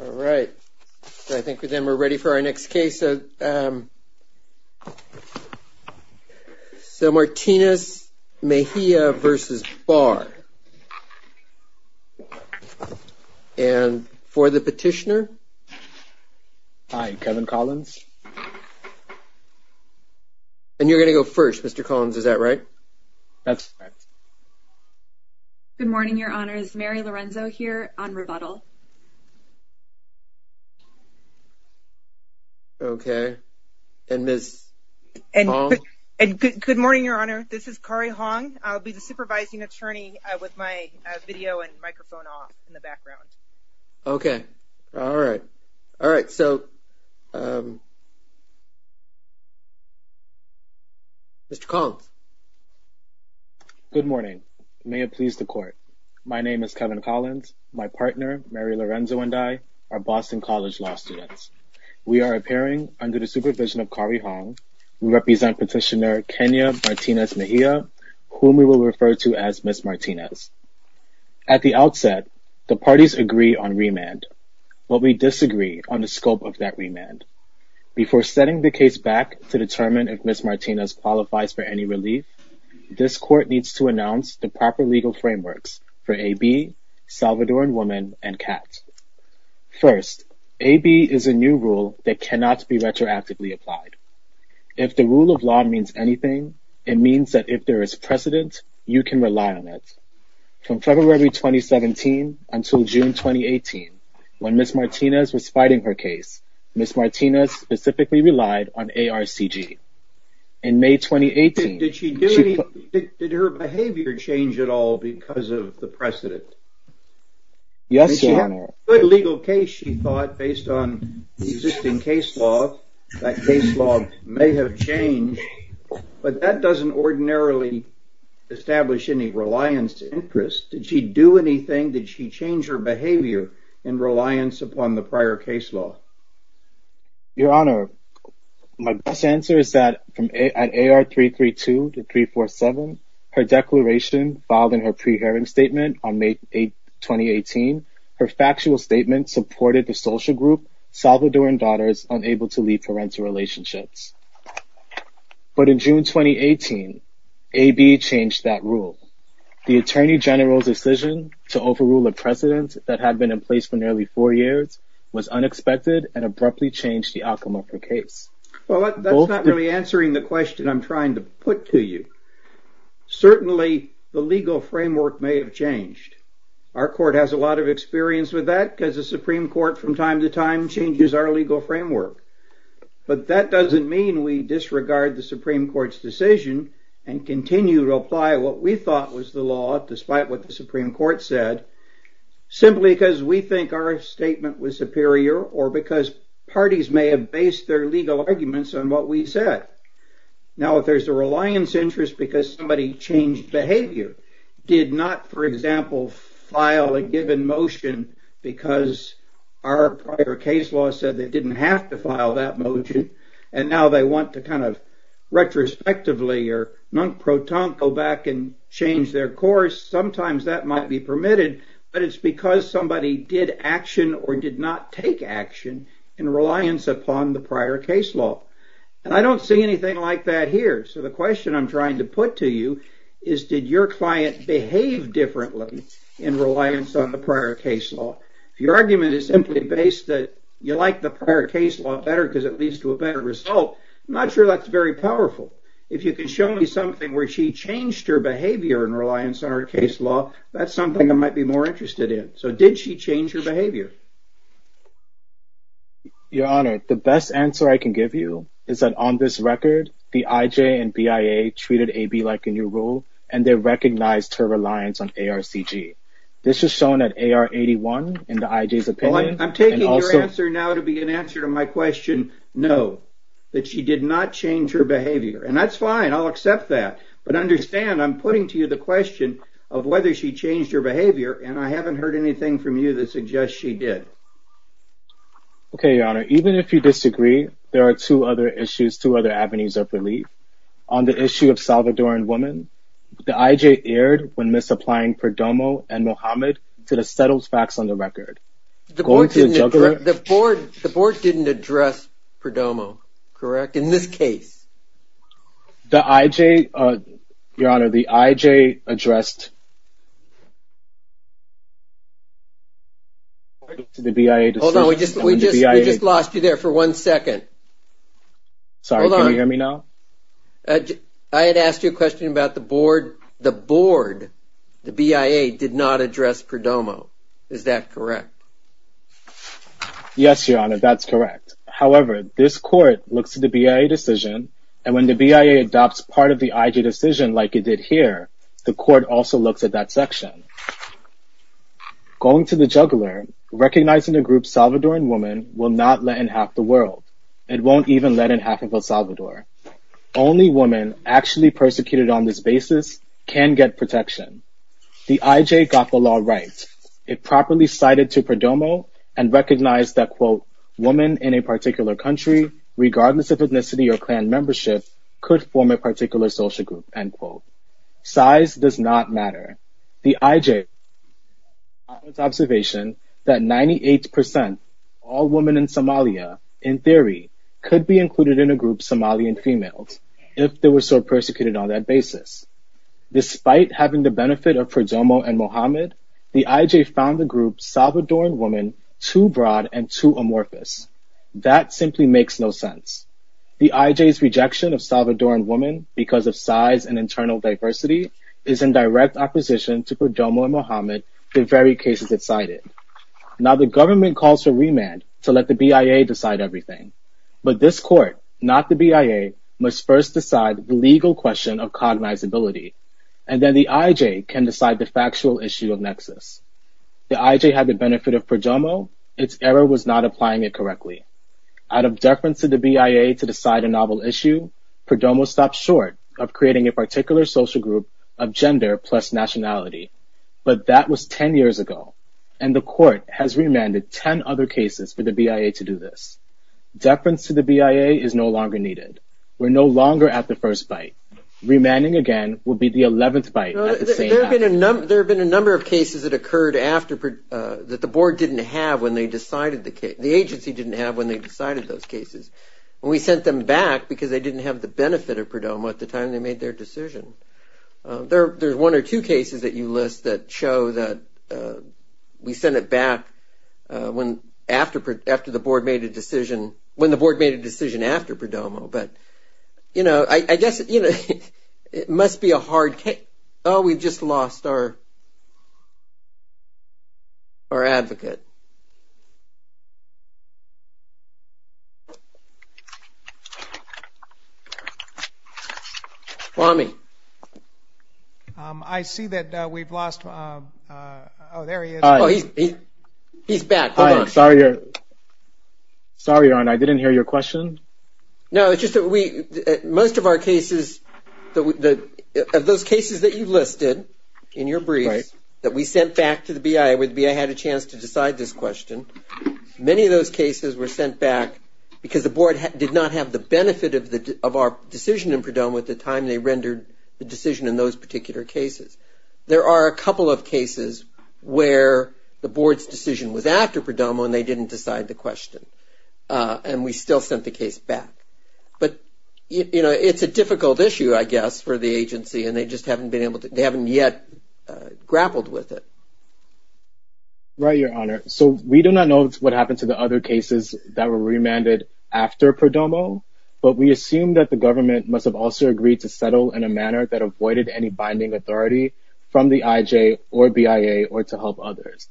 All right, I think with them we're ready for our next case. So Martinez-Mejia v. Barr, and for the petitioner? Hi, Kevin Collins. And you're going to go first, Mr. Collins, is that right? That's right. Good morning, Your Honor. It's Mary Lorenzo here on rebuttal. Okay. And Ms. Hong? Good morning, Your Honor. This is Kari Hong. I'll be the supervising attorney with my video and microphone off in the background. Okay. All right. All right. So, Mr. Collins? Good morning. May it please the Court. My name is Kevin Collins. My partner, Mary Lorenzo, and I are Boston College law students. We are appearing under the supervision of Kari Hong. We represent petitioner Kenia Martinez-Mejia, whom we will refer to as Ms. Martinez. At the outset, the parties agree on remand, but we disagree on the scope of that remand. Before setting the case back to determine if Ms. Martinez qualifies for any relief, this Court needs to announce the proper legal frameworks for AB, Salvadoran woman, and cat. First, AB is a new rule that cannot be retroactively applied. If the rule of law means anything, it means that if there is precedent, you can rely on it. From February 2017 until June 2018, when Ms. Martinez was fighting her case, Ms. Martinez specifically relied on ARCG. In May 2018... Did her behavior change at all because of the precedent? Yes, Your Honor. She had a good legal case, she thought, based on the existing case law. That case law may have changed, but that doesn't ordinarily establish any reliance to interest. Did she do anything? Did she change her behavior in reliance upon the prior case law? Your Honor, my best answer is that at AR332 to 347, her declaration filed in her pre-hearing statement on May 8, 2018. Her factual statement supported the social group, Salvadoran Daughters Unable to Lead Parental Relationships. But in June 2018, AB changed that rule. The Attorney General's decision to overrule a precedent that had been in place for nearly four years, was unexpected and abruptly changed the outcome of her case. Well, that's not really answering the question I'm trying to put to you. Certainly, the legal framework may have changed. Our court has a lot of experience with that because the Supreme Court from time to time changes our legal framework. But that doesn't mean we disregard the Supreme Court's decision and continue to apply what we thought was the law, despite what the Supreme Court said, simply because we think our statement was superior, or because parties may have based their legal arguments on what we said. Now, if there's a reliance interest because somebody changed behavior, did not, for example, file a given motion because our prior case law said they didn't have to file that motion, and now they want to kind of retrospectively or non-proton go back and change their course, sometimes that might be permitted, but it's because somebody did action or did not take action in reliance upon the prior case law. And I don't see anything like that here. So the question I'm trying to put to you is, did your client behave differently in reliance on the prior case law? If your argument is simply based that you like the prior case law better because it leads to a better result, I'm not sure that's very powerful. If you can show me something where she changed her behavior in reliance on her case law, that's something I might be more interested in. So did she change her behavior? Your Honor, the best answer I can give you is that on this record, the IJ and BIA treated AB like a new rule, and they recognized her reliance on ARCG. This is shown at AR 81 in the IJ's opinion. I'm taking your answer now to be an answer to my question, no, that she did not change her behavior. And that's fine. I'll accept that. But understand, I'm putting to you the question of whether she changed her behavior, and I haven't heard anything from you that suggests she did. Okay, Your Honor. Even if you disagree, there are two other issues, two other avenues of relief. On the issue of Salvadoran women, the IJ erred when misapplying Perdomo and Mohammed to the settled facts on the record. The board didn't address Perdomo, correct, in this case? The IJ, Your Honor, the IJ addressed the BIA decision. Hold on, we just lost you there for one second. Sorry, can you hear me now? I had asked you a question about the board. The board, the BIA, did not address Perdomo. Is that correct? Yes, Your Honor, that's correct. However, this court looks at the BIA decision, and when the BIA adopts part of the IJ decision like it did here, the court also looks at that section. Going to the juggler, recognizing a group Salvadoran woman will not let in half the world. It won't even let in half of El Salvador. Only women actually persecuted on this basis can get protection. The IJ got the law right. It properly cited to Perdomo and recognized that, quote, women in a particular country, regardless of ethnicity or clan membership, could form a particular social group, end quote. Size does not matter. The IJ's observation that 98% all women in Somalia, in theory, could be included in a group Somalian females, if they were so persecuted on that basis. Despite having the benefit of Perdomo and Mohammed, the IJ found the group Salvadoran woman too broad and too amorphous. That simply makes no sense. The IJ's rejection of Salvadoran woman because of size and internal diversity is in direct opposition to Perdomo and Mohammed, the very cases it cited. Now, the government calls for remand to let the BIA decide everything. But this court, not the BIA, must first decide the legal question of cognizability, and then the IJ can decide the factual issue of nexus. The IJ had the benefit of Perdomo. Its error was not applying it correctly. Out of deference to the BIA to decide a novel issue, Perdomo stopped short of creating a particular social group of gender plus nationality. But that was 10 years ago, and the court has remanded 10 other cases for the BIA to do this. Deference to the BIA is no longer needed. We're no longer at the first fight. Remanding again will be the 11th fight at the same time. There have been a number of cases that occurred that the agency didn't have when they decided those cases. And we sent them back because they didn't have the benefit of Perdomo at the time they made their decision. There's one or two cases that you list that show that we sent it back when the board made a decision after Perdomo. But, you know, I guess it must be a hard case. Oh, we've just lost our advocate. Who is it? Swami. I see that we've lost. Oh, there he is. He's back. Sorry, Arne. I didn't hear your question. No, it's just that most of our cases, of those cases that you listed in your briefs that we sent back to the BIA where the BIA had a chance to decide this question, many of those cases were sent back because the board did not have the benefit of our decision in Perdomo at the time they rendered the decision in those particular cases. There are a couple of cases where the board's decision was after Perdomo and they didn't decide the question. And we still sent the case back. But, you know, it's a difficult issue, I guess, for the agency, and they just haven't been able to, they haven't yet grappled with it. Right, Your Honor. So we do not know what happened to the other cases that were remanded after Perdomo, but we assume that the government must have also agreed to settle in a manner that avoided any binding authority from the IJ or BIA or to help others.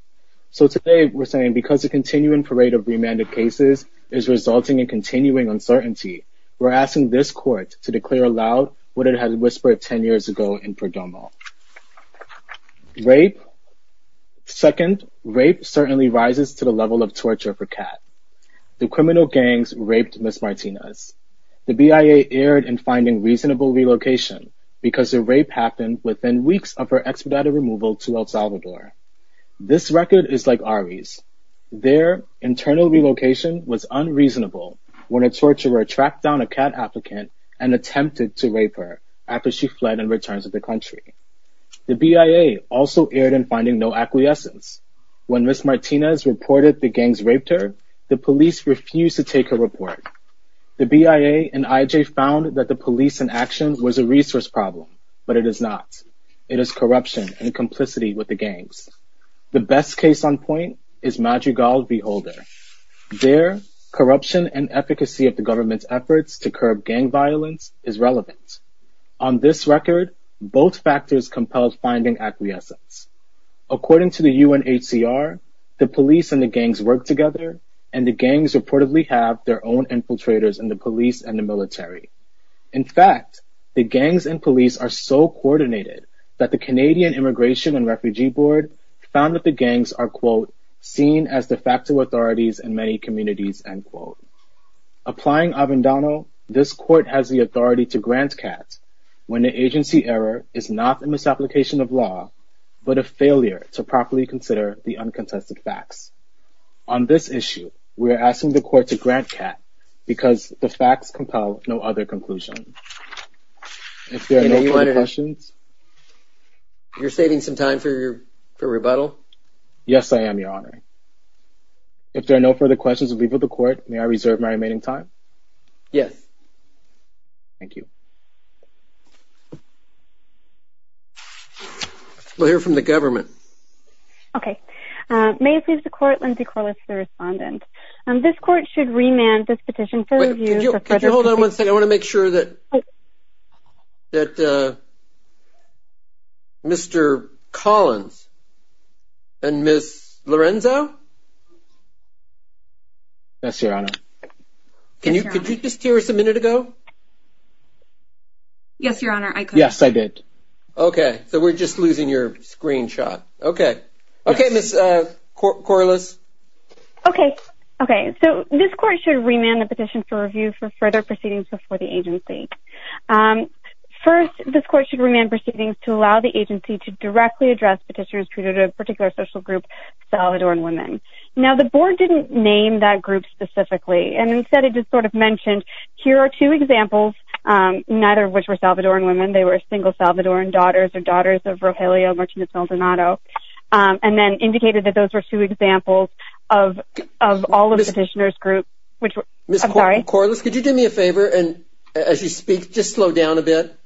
So today we're saying because the continuing parade of remanded cases is resulting in continuing uncertainty, we're asking this court to declare aloud what it had whispered 10 years ago in Perdomo. Rape. Second, rape certainly rises to the level of torture for Kat. The criminal gangs raped Ms. Martinez. The BIA erred in finding reasonable relocation because the rape happened within weeks of her expedited removal to El Salvador. This record is like Ari's. Their internal relocation was unreasonable when a torturer tracked down a Kat applicant and attempted to rape her after she fled and returned to the country. The BIA also erred in finding no acquiescence. When Ms. Martinez reported the gangs raped her, the police refused to take her report. The BIA and IJ found that the police inaction was a resource problem, but it is not. It is corruption and complicity with the gangs. The best case on point is Madrigal v. Holder. Their corruption and efficacy of the government's efforts to curb gang violence is relevant. On this record, both factors compelled finding acquiescence. According to the UNHCR, the police and the gangs work together, and the gangs reportedly have their own infiltrators in the police and the military. In fact, the gangs and police are so coordinated that the Canadian Immigration and Refugee Board found that the gangs are, quote, seen as de facto authorities in many communities, end quote. Applying Avendano, this court has the authority to grant Kat when the agency error is not a misapplication of law, but a failure to properly consider the uncontested facts. On this issue, we are asking the court to grant Kat because the facts compel no other conclusion. If there are no further questions... You're saving some time for your rebuttal? Yes, I am, Your Honor. If there are no further questions, we will leave it to the court. May I reserve my remaining time? Yes. Thank you. We'll hear from the government. Okay. May it please the court, Lindsay Corliss, the respondent. This court should remand this petition for review... Could you hold on one second? I want to make sure that Mr. Collins and Ms. Lorenzo... Yes, Your Honor. Could you just hear us a minute ago? Yes, Your Honor, I could. Yes, I did. Okay, so we're just losing your screenshot. Okay. Okay, Ms. Corliss. Okay. Okay, so this court should remand the petition for review for further proceedings before the agency. First, this court should remand proceedings to allow the agency to directly address petitioners treated to a particular social group, Salvadoran women. Now, the board didn't name that group specifically, and instead it just sort of mentioned, here are two examples, neither of which were Salvadoran women. They were single Salvadoran daughters or daughters of Rogelio Martinez Maldonado, and then indicated that those were two examples of all of the petitioners' groups. Ms. Corliss, could you do me a favor and, as you speak, just slow down a bit?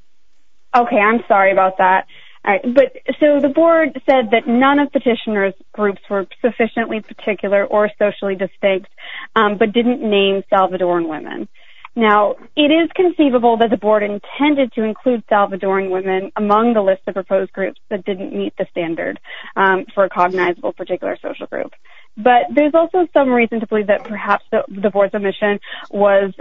Okay, I'm sorry about that. So the board said that none of the petitioners' groups were sufficiently particular or socially distinct, but didn't name Salvadoran women. Now, it is conceivable that the board intended to include Salvadoran women among the list of proposed groups that didn't meet the standard for a cognizable particular social group. But there's also some reason to believe that perhaps the board's omission was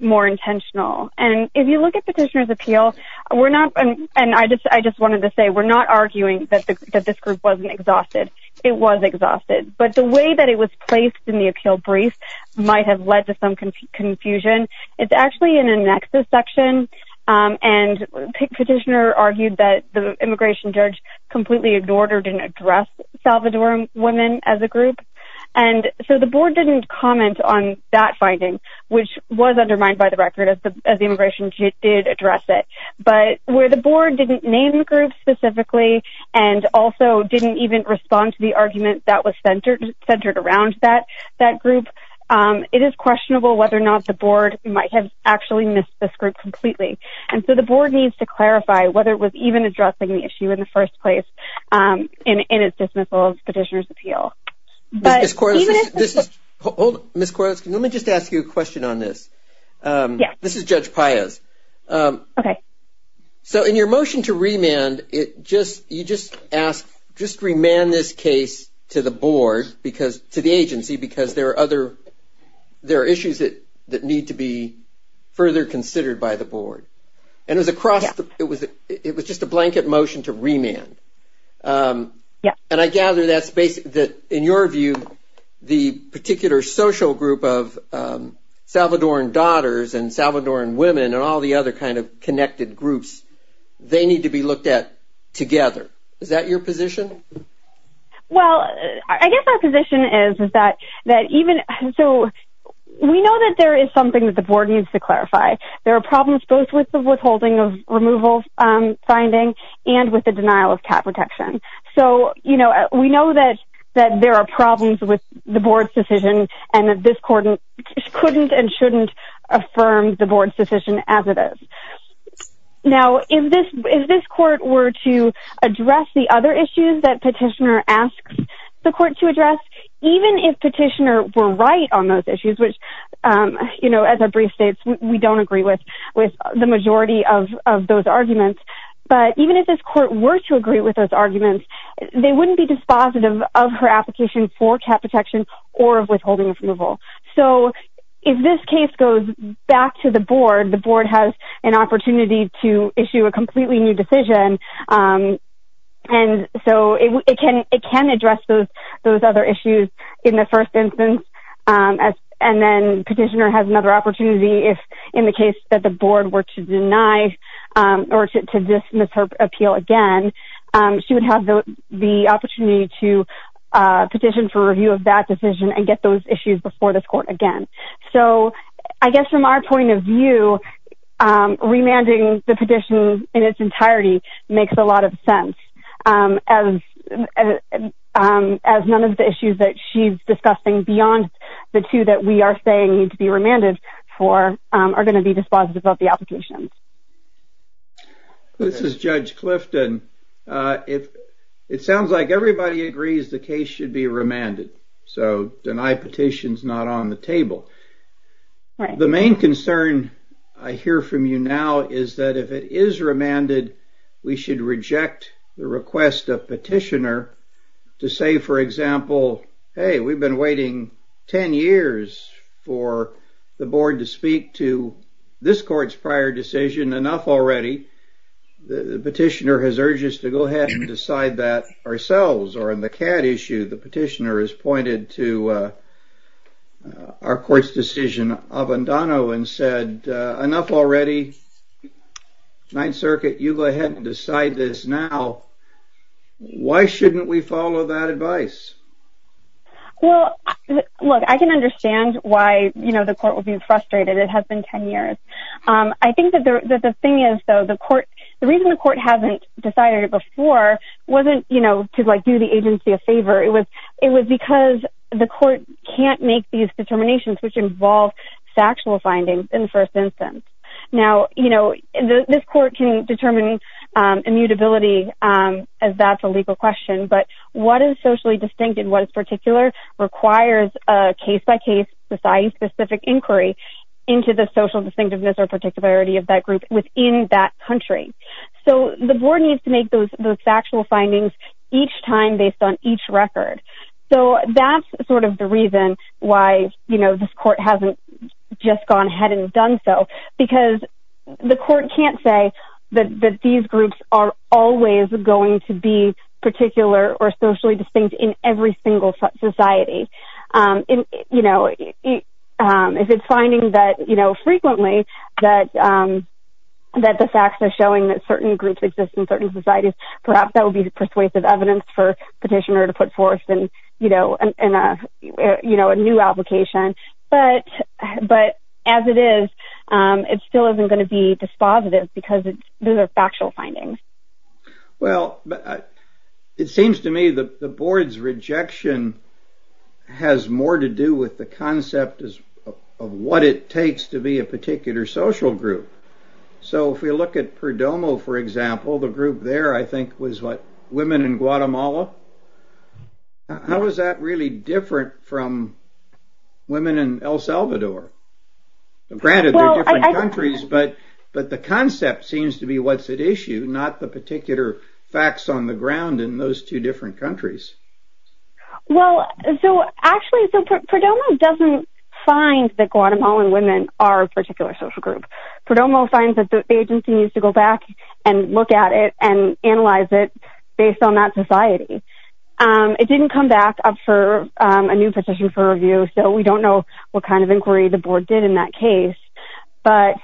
more intentional. And if you look at petitioner's appeal, we're not, and I just wanted to say, we're not arguing that this group wasn't exhausted. It was exhausted. But the way that it was placed in the appeal brief might have led to some confusion. It's actually in a nexus section, and petitioner argued that the immigration judge completely ignored or didn't address Salvadoran women as a group. And so the board didn't comment on that finding, which was undermined by the record, as the immigration judge did address it. But where the board didn't name the group specifically and also didn't even respond to the argument that was centered around that group, it is questionable whether or not the board might have actually missed this group completely. And so the board needs to clarify whether it was even addressing the issue in the first place in its dismissal of petitioner's appeal. Ms. Corliss, hold on. Ms. Corliss, can I just ask you a question on this? Yes. This is Judge Paez. Okay. So in your motion to remand, you just asked, just remand this case to the board, to the agency, because there are issues that need to be further considered by the board. And it was just a blanket motion to remand. Yes. And I gather that in your view the particular social group of Salvadoran daughters and Salvadoran women and all the other kind of connected groups, they need to be looked at together. Is that your position? Well, I guess our position is that even so we know that there is something that the board needs to clarify. There are problems both with the withholding of removal finding and with the denial of cap protection. So we know that there are problems with the board's decision and that this court couldn't and shouldn't affirm the board's decision as it is. Now, if this court were to address the other issues that petitioner asks the court to address, even if petitioner were right on those issues, which, you know, as a brief state, we don't agree with the majority of those arguments, but even if this court were to agree with those arguments, they wouldn't be dispositive of her application for cap protection or of withholding of removal. So if this case goes back to the board, the board has an opportunity to issue a completely new decision. And so it can address those other issues in the first instance. And then petitioner has another opportunity if in the case that the board were to deny or to dismiss her appeal again, she would have the opportunity to petition for review of that decision and get those issues before this court again. So I guess from our point of view, remanding the petition in its entirety makes a lot of sense, as none of the issues that she's discussing beyond the two that we are saying need to be remanded for are going to be dispositive of the application. This is Judge Clifton. It sounds like everybody agrees the case should be remanded. So deny petitions not on the table. The main concern I hear from you now is that if it is remanded, we should reject the request of petitioner to say, for example, hey, we've been waiting 10 years for the board to speak to this court's prior decision. Enough already. The petitioner has urged us to go ahead and decide that ourselves. Or in the CAD issue, the petitioner has pointed to our court's decision of Andano and said, enough already. Ninth Circuit, you go ahead and decide this now. Why shouldn't we follow that advice? Well, look, I can understand why the court would be frustrated. It has been 10 years. I think that the thing is, though, the reason the court hasn't decided it before wasn't to do the agency a favor. It was because the court can't make these determinations, which involve factual findings in the first instance. Now, you know, this court can determine immutability as that's a legal question, but what is socially distinct and what is particular requires a case-by-case, society-specific inquiry into the social distinctiveness or particularity of that group within that country. So the board needs to make those factual findings each time based on each record. So that's sort of the reason why, you know, this court hasn't just gone ahead and done so, because the court can't say that these groups are always going to be particular or socially distinct in every single society. You know, if it's finding that, you know, frequently that the facts are showing that certain groups exist in certain societies, perhaps that would be persuasive evidence for petitioner to put forth in, you know, a new application. But as it is, it still isn't going to be dispositive because those are factual findings. Well, it seems to me that the board's rejection has more to do with the concept of what it takes to be a particular social group. So if we look at Perdomo, for example, the group there I think was what, women in Guatemala. How is that really different from women in El Salvador? Granted, they're different countries, but the concept seems to be what's at issue, not the particular facts on the ground in those two different countries. Well, so actually Perdomo doesn't find that Guatemalan women are a particular social group. Perdomo finds that the agency needs to go back and look at it and analyze it based on that society. It didn't come back up for a new petition for review, so we don't know what kind of inquiry the board did in that case. But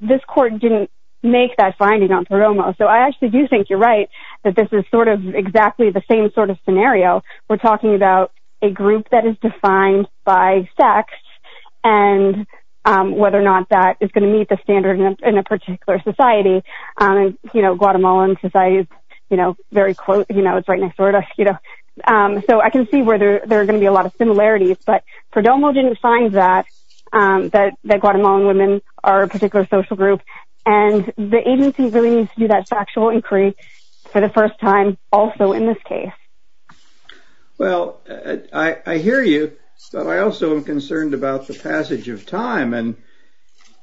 this court didn't make that finding on Perdomo. So I actually do think you're right that this is sort of exactly the same sort of scenario. We're talking about a group that is defined by sex and whether or not that is going to meet the standard in a particular society. Guatemala society is very close, it's right next door to us. So I can see where there are going to be a lot of similarities, but Perdomo didn't find that, that Guatemalan women are a particular social group. And the agency really needs to do that factual inquiry for the first time also in this case. Well, I hear you, but I also am concerned about the passage of time.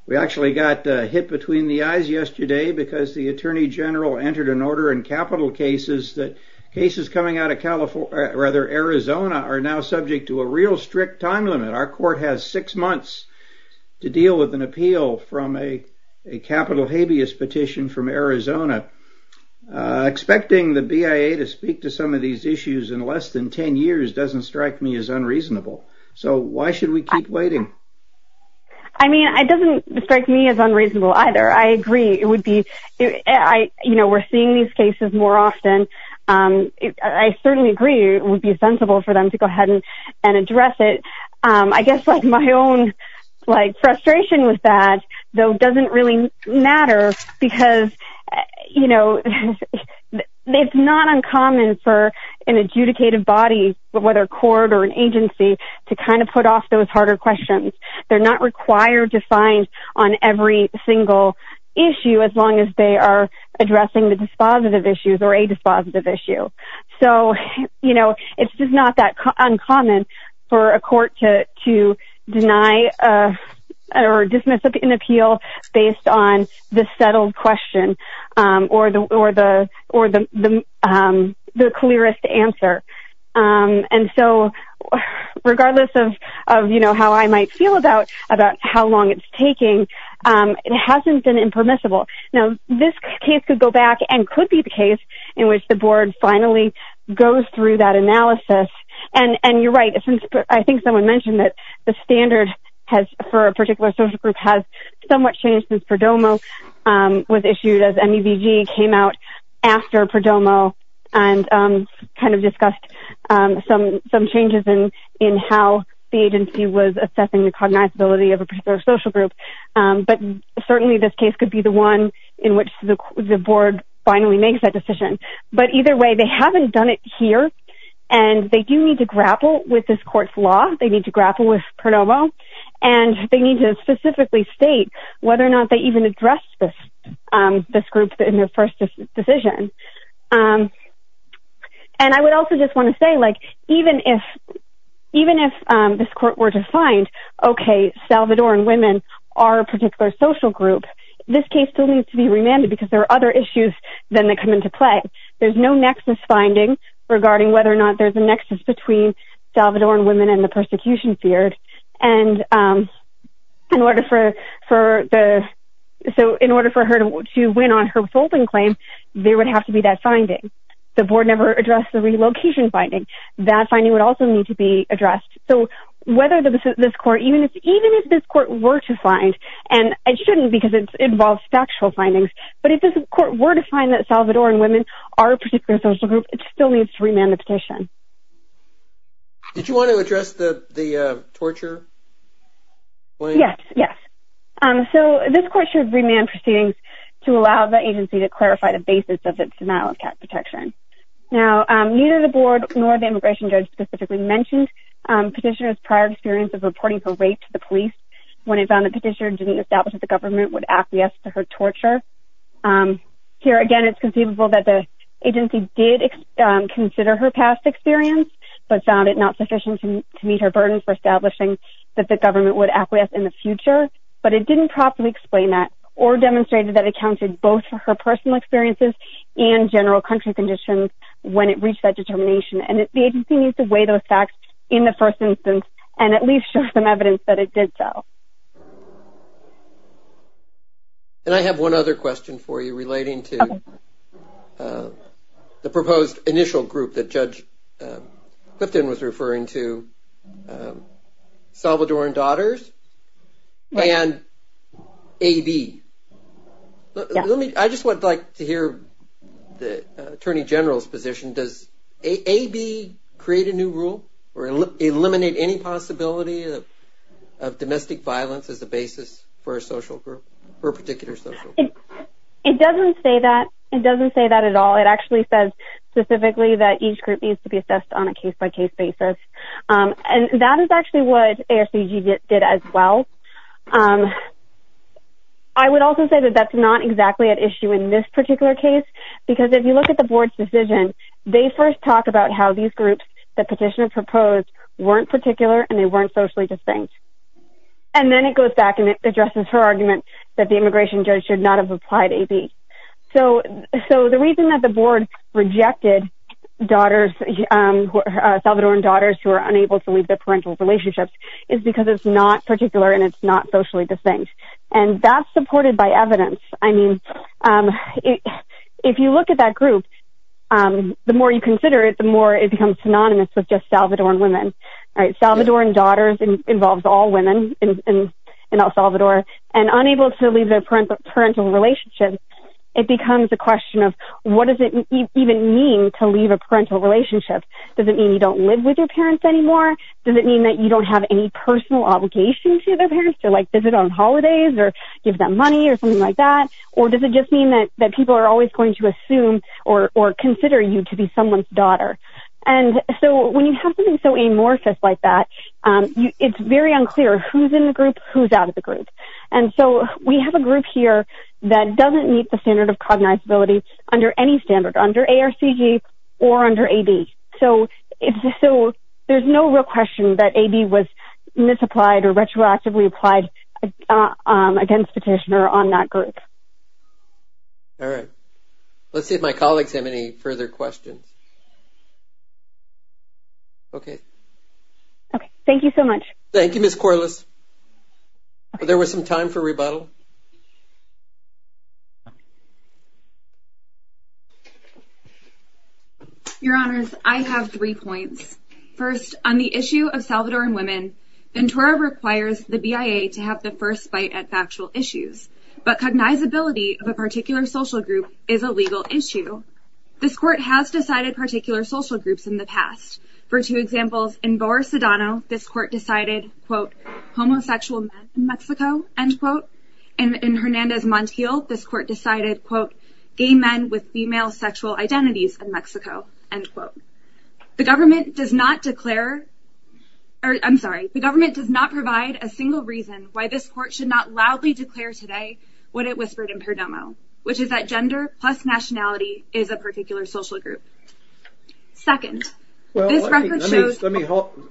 We actually got hit between the eyes yesterday because the Attorney General entered an order in capital cases that cases coming out of Arizona are now subject to a real strict time limit. Our court has six months to deal with an appeal from a capital habeas petition from Arizona. Expecting the BIA to speak to some of these issues in less than ten years doesn't strike me as unreasonable. So why should we keep waiting? I mean, it doesn't strike me as unreasonable either. I agree. We're seeing these cases more often. I certainly agree it would be sensible for them to go ahead and address it. I guess my own frustration with that, though, doesn't really matter because it's not uncommon for an adjudicative body, whether a court or an agency, to kind of put off those harder questions. They're not required to find on every single issue as long as they are addressing the dispositive issues or a dispositive issue. So, you know, it's just not that uncommon for a court to deny or dismiss an appeal based on the settled question or the clearest answer. And so regardless of how I might feel about how long it's taking, it hasn't been impermissible. Now, this case could go back and could be the case in which the board finally goes through that analysis. And you're right. I think someone mentioned that the standard for a particular social group has somewhat changed since PRODOMO was issued as MEVG came out after PRODOMO and kind of discussed some changes in how the agency was assessing the cognizability of a particular social group. But certainly this case could be the one in which the board finally makes that decision. But either way, they haven't done it here. And they do need to grapple with this court's law. They need to grapple with PRODOMO. And they need to specifically state whether or not they even addressed this group in their first decision. And I would also just want to say, like, even if this court were to find, okay, Salvadoran women are a particular social group, this case still needs to be remanded because there are other issues then that come into play. There's no nexus finding regarding whether or not there's a nexus between Salvadoran women and the persecution feared. And in order for her to win on her folding claim, there would have to be that finding. The board never addressed the relocation finding. That finding would also need to be addressed. So whether this court, even if this court were to find, and it shouldn't because it involves factual findings, but if this court were to find that Salvadoran women are a particular social group, it still needs to remand the petition. Did you want to address the torture claim? Yes, yes. So this court should remand proceedings to allow the agency to clarify the basis of its denial of cap protection. Now, neither the board nor the immigration judge specifically mentioned petitioner's prior experience of reporting her rape to the police when it found the petitioner didn't establish that the government would acquiesce to her torture. Here, again, it's conceivable that the agency did consider her past experience but found it not sufficient to meet her burden for establishing that the government would acquiesce in the future. But it didn't properly explain that or demonstrated that it accounted both for her personal experiences and general country conditions when it reached that determination. And the agency needs to weigh those facts in the first instance and at least show some evidence that it did so. And I have one other question for you relating to the proposed initial group that Judge Clifton was referring to, Salvador and Daughters, and AB. I just would like to hear the Attorney General's position. Does AB create a new rule or eliminate any possibility of domestic violence as a basis for a particular social group? It doesn't say that. It doesn't say that at all. It actually says specifically that each group needs to be assessed on a case-by-case basis. And that is actually what ASBG did as well. I would also say that that's not exactly at issue in this particular case because if you look at the Board's decision, they first talk about how these groups the petitioner proposed weren't particular and they weren't socially distinct. And then it goes back and it addresses her argument that the immigration judge should not have applied AB. So the reason that the Board rejected Salvador and Daughters who are unable to leave their parental relationships is because it's not particular and it's not socially distinct. And that's supported by evidence. I mean, if you look at that group, the more you consider it, the more it becomes synonymous with just Salvadoran women. Salvadoran Daughters involves all women in El Salvador. And unable to leave their parental relationships, it becomes a question of what does it even mean to leave a parental relationship? Does it mean you don't live with your parents anymore? Does it mean that you don't have any personal obligation to their parents to visit on holidays or give them money or something like that? Or does it just mean that people are always going to assume or consider you to be someone's daughter? And so when you have something so amorphous like that, it's very unclear who's in the group, who's out of the group. And so we have a group here that doesn't meet the standard of cognizability under any standard, under ARCG or under AB. So there's no real question that AB was misapplied or retroactively applied against the petitioner on that group. All right. Let's see if my colleagues have any further questions. Okay. Okay. Thank you so much. Thank you, Ms. Corliss. There was some time for rebuttal. Your Honors, I have three points. First, on the issue of Salvadoran women, Ventura requires the BIA to have the first bite at factual issues. But cognizability of a particular social group is a legal issue. This court has decided particular social groups in the past. For two examples, in Boa Sedano, this court decided, quote, homosexual men in Mexico, end quote. In Hernandez Montiel, this court decided, quote, gay men with female sexual identities in Mexico, end quote. The government does not declare, or I'm sorry, the government does not provide a single reason why this court should not loudly declare today what it whispered in Perdomo, which is that gender plus nationality is a particular social group. Second, this record shows- Let me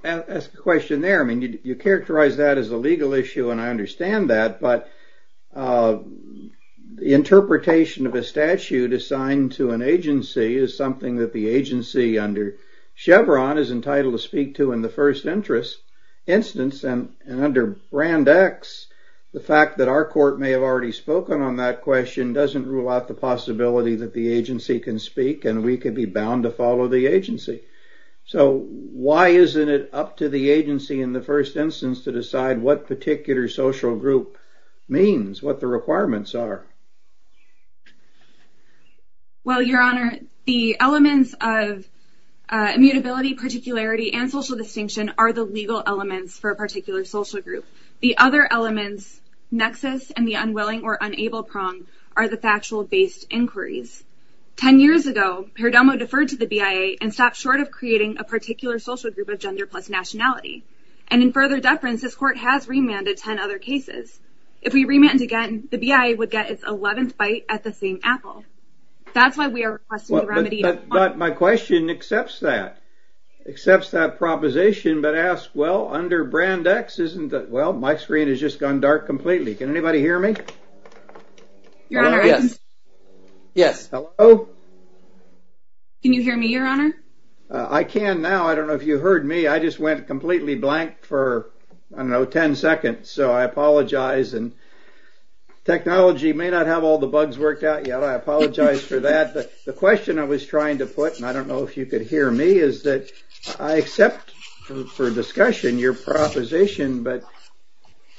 ask a question there. I mean, you characterized that as a legal issue, and I understand that. But the interpretation of a statute assigned to an agency is something that the agency under Chevron is entitled to speak to in the first instance. And under Brand X, the fact that our court may have already spoken on that question doesn't rule out the possibility that the agency can speak, and we could be bound to follow the agency. So why isn't it up to the agency in the first instance to decide what particular social group means, what the requirements are? Well, Your Honor, the elements of immutability, particularity, and social distinction are the legal elements for a particular social group. The other elements, nexus and the unwilling or unable prong, are the factual-based inquiries. Ten years ago, Perdomo deferred to the BIA and stopped short of creating a particular social group of gender plus nationality. And in further deference, this court has remanded ten other cases. If we remand again, the BIA would get its 11th bite at the same apple. That's why we are requesting the remedy- But my question accepts that, accepts that proposition, but asks, well, under Brand X, isn't that- Well, my screen has just gone dark completely. Can anybody hear me? Your Honor, yes. Yes. Hello? Can you hear me, Your Honor? I can now. I don't know if you heard me. I just went completely blank for, I don't know, ten seconds. So I apologize. And technology may not have all the bugs worked out yet. I apologize for that. But the question I was trying to put, and I don't know if you could hear me, is that I accept for discussion your proposition. But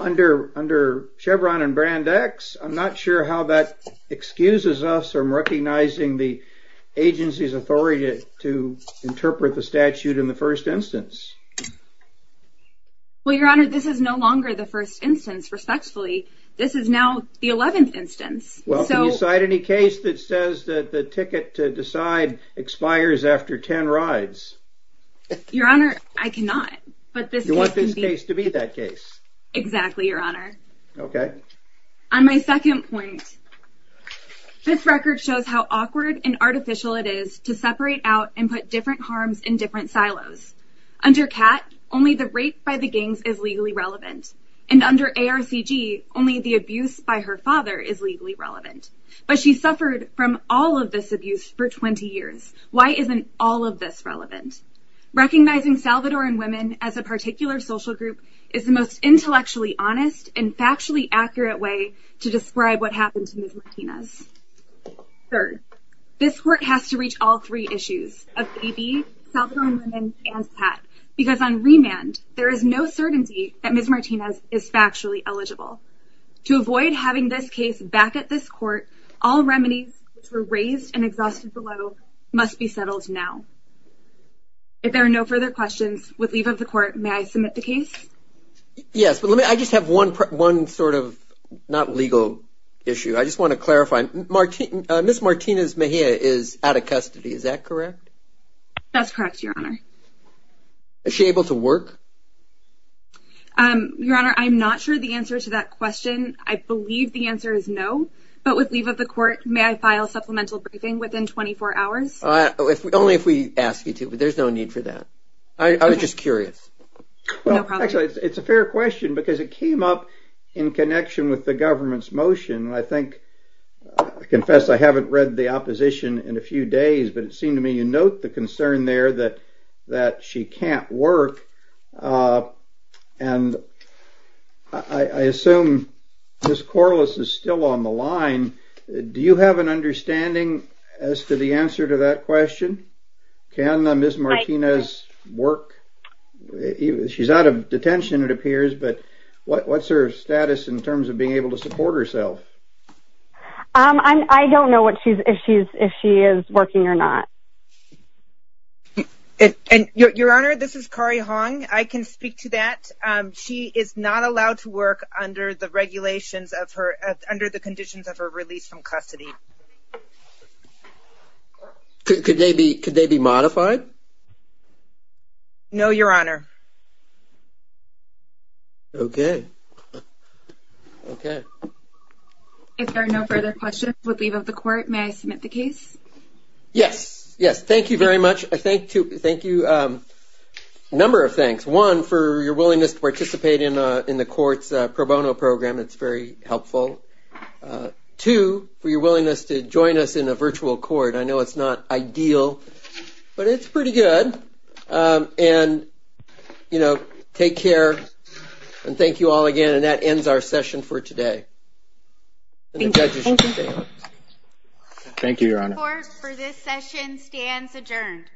under Chevron and Brand X, I'm not sure how that excuses us from recognizing the agency's authority to interpret the statute in the first instance. Well, Your Honor, this is no longer the first instance, respectfully. This is now the 11th instance. Well, can you cite any case that says that the ticket to decide expires after ten rides? Your Honor, I cannot. You want this case to be that case? Exactly, Your Honor. Okay. On my second point, this record shows how awkward and artificial it is to separate out and put different harms in different silos. Under CAT, only the rape by the gangs is legally relevant. And under ARCG, only the abuse by her father is legally relevant. But she suffered from all of this abuse for 20 years. Why isn't all of this relevant? Recognizing Salvadoran women as a particular social group is the most intellectually honest and factually accurate way to describe what happened to Ms. Martinez. Third, this Court has to reach all three issues of AB, Salvadoran women, and CAT. Because on remand, there is no certainty that Ms. Martinez is factually eligible. To avoid having this case back at this Court, all remedies which were raised and exhausted below must be settled now. If there are no further questions, with leave of the Court, may I submit the case? Yes, but I just have one sort of not legal issue. I just want to clarify. Ms. Martinez Mejia is out of custody, is that correct? That's correct, Your Honor. Is she able to work? Your Honor, I'm not sure the answer to that question. I believe the answer is no. But with leave of the Court, may I file supplemental briefing within 24 hours? Only if we ask you to, but there's no need for that. I was just curious. Actually, it's a fair question because it came up in connection with the government's motion. I think, I confess I haven't read the opposition in a few days, but it seemed to me you note the concern there that she can't work. And I assume Ms. Corliss is still on the line. Do you have an understanding as to the answer to that question? Can Ms. Martinez work? She's out of detention, it appears, but what's her status in terms of being able to support herself? I don't know if she is working or not. Your Honor, this is Kari Hong. I can speak to that. She is not allowed to work under the conditions of her release from custody. Could they be modified? No, Your Honor. Okay. If there are no further questions with leave of the Court, may I submit the case? Yes. Yes. Thank you very much. Thank you. A number of thanks. One, for your willingness to participate in the Court's pro bono program. It's very helpful. Two, for your willingness to join us in a virtual court. I know it's not ideal, but it's pretty good. And, you know, take care and thank you all again. And that ends our session for today. Thank you. Thank you, Your Honor. Court, for this session, stands adjourned.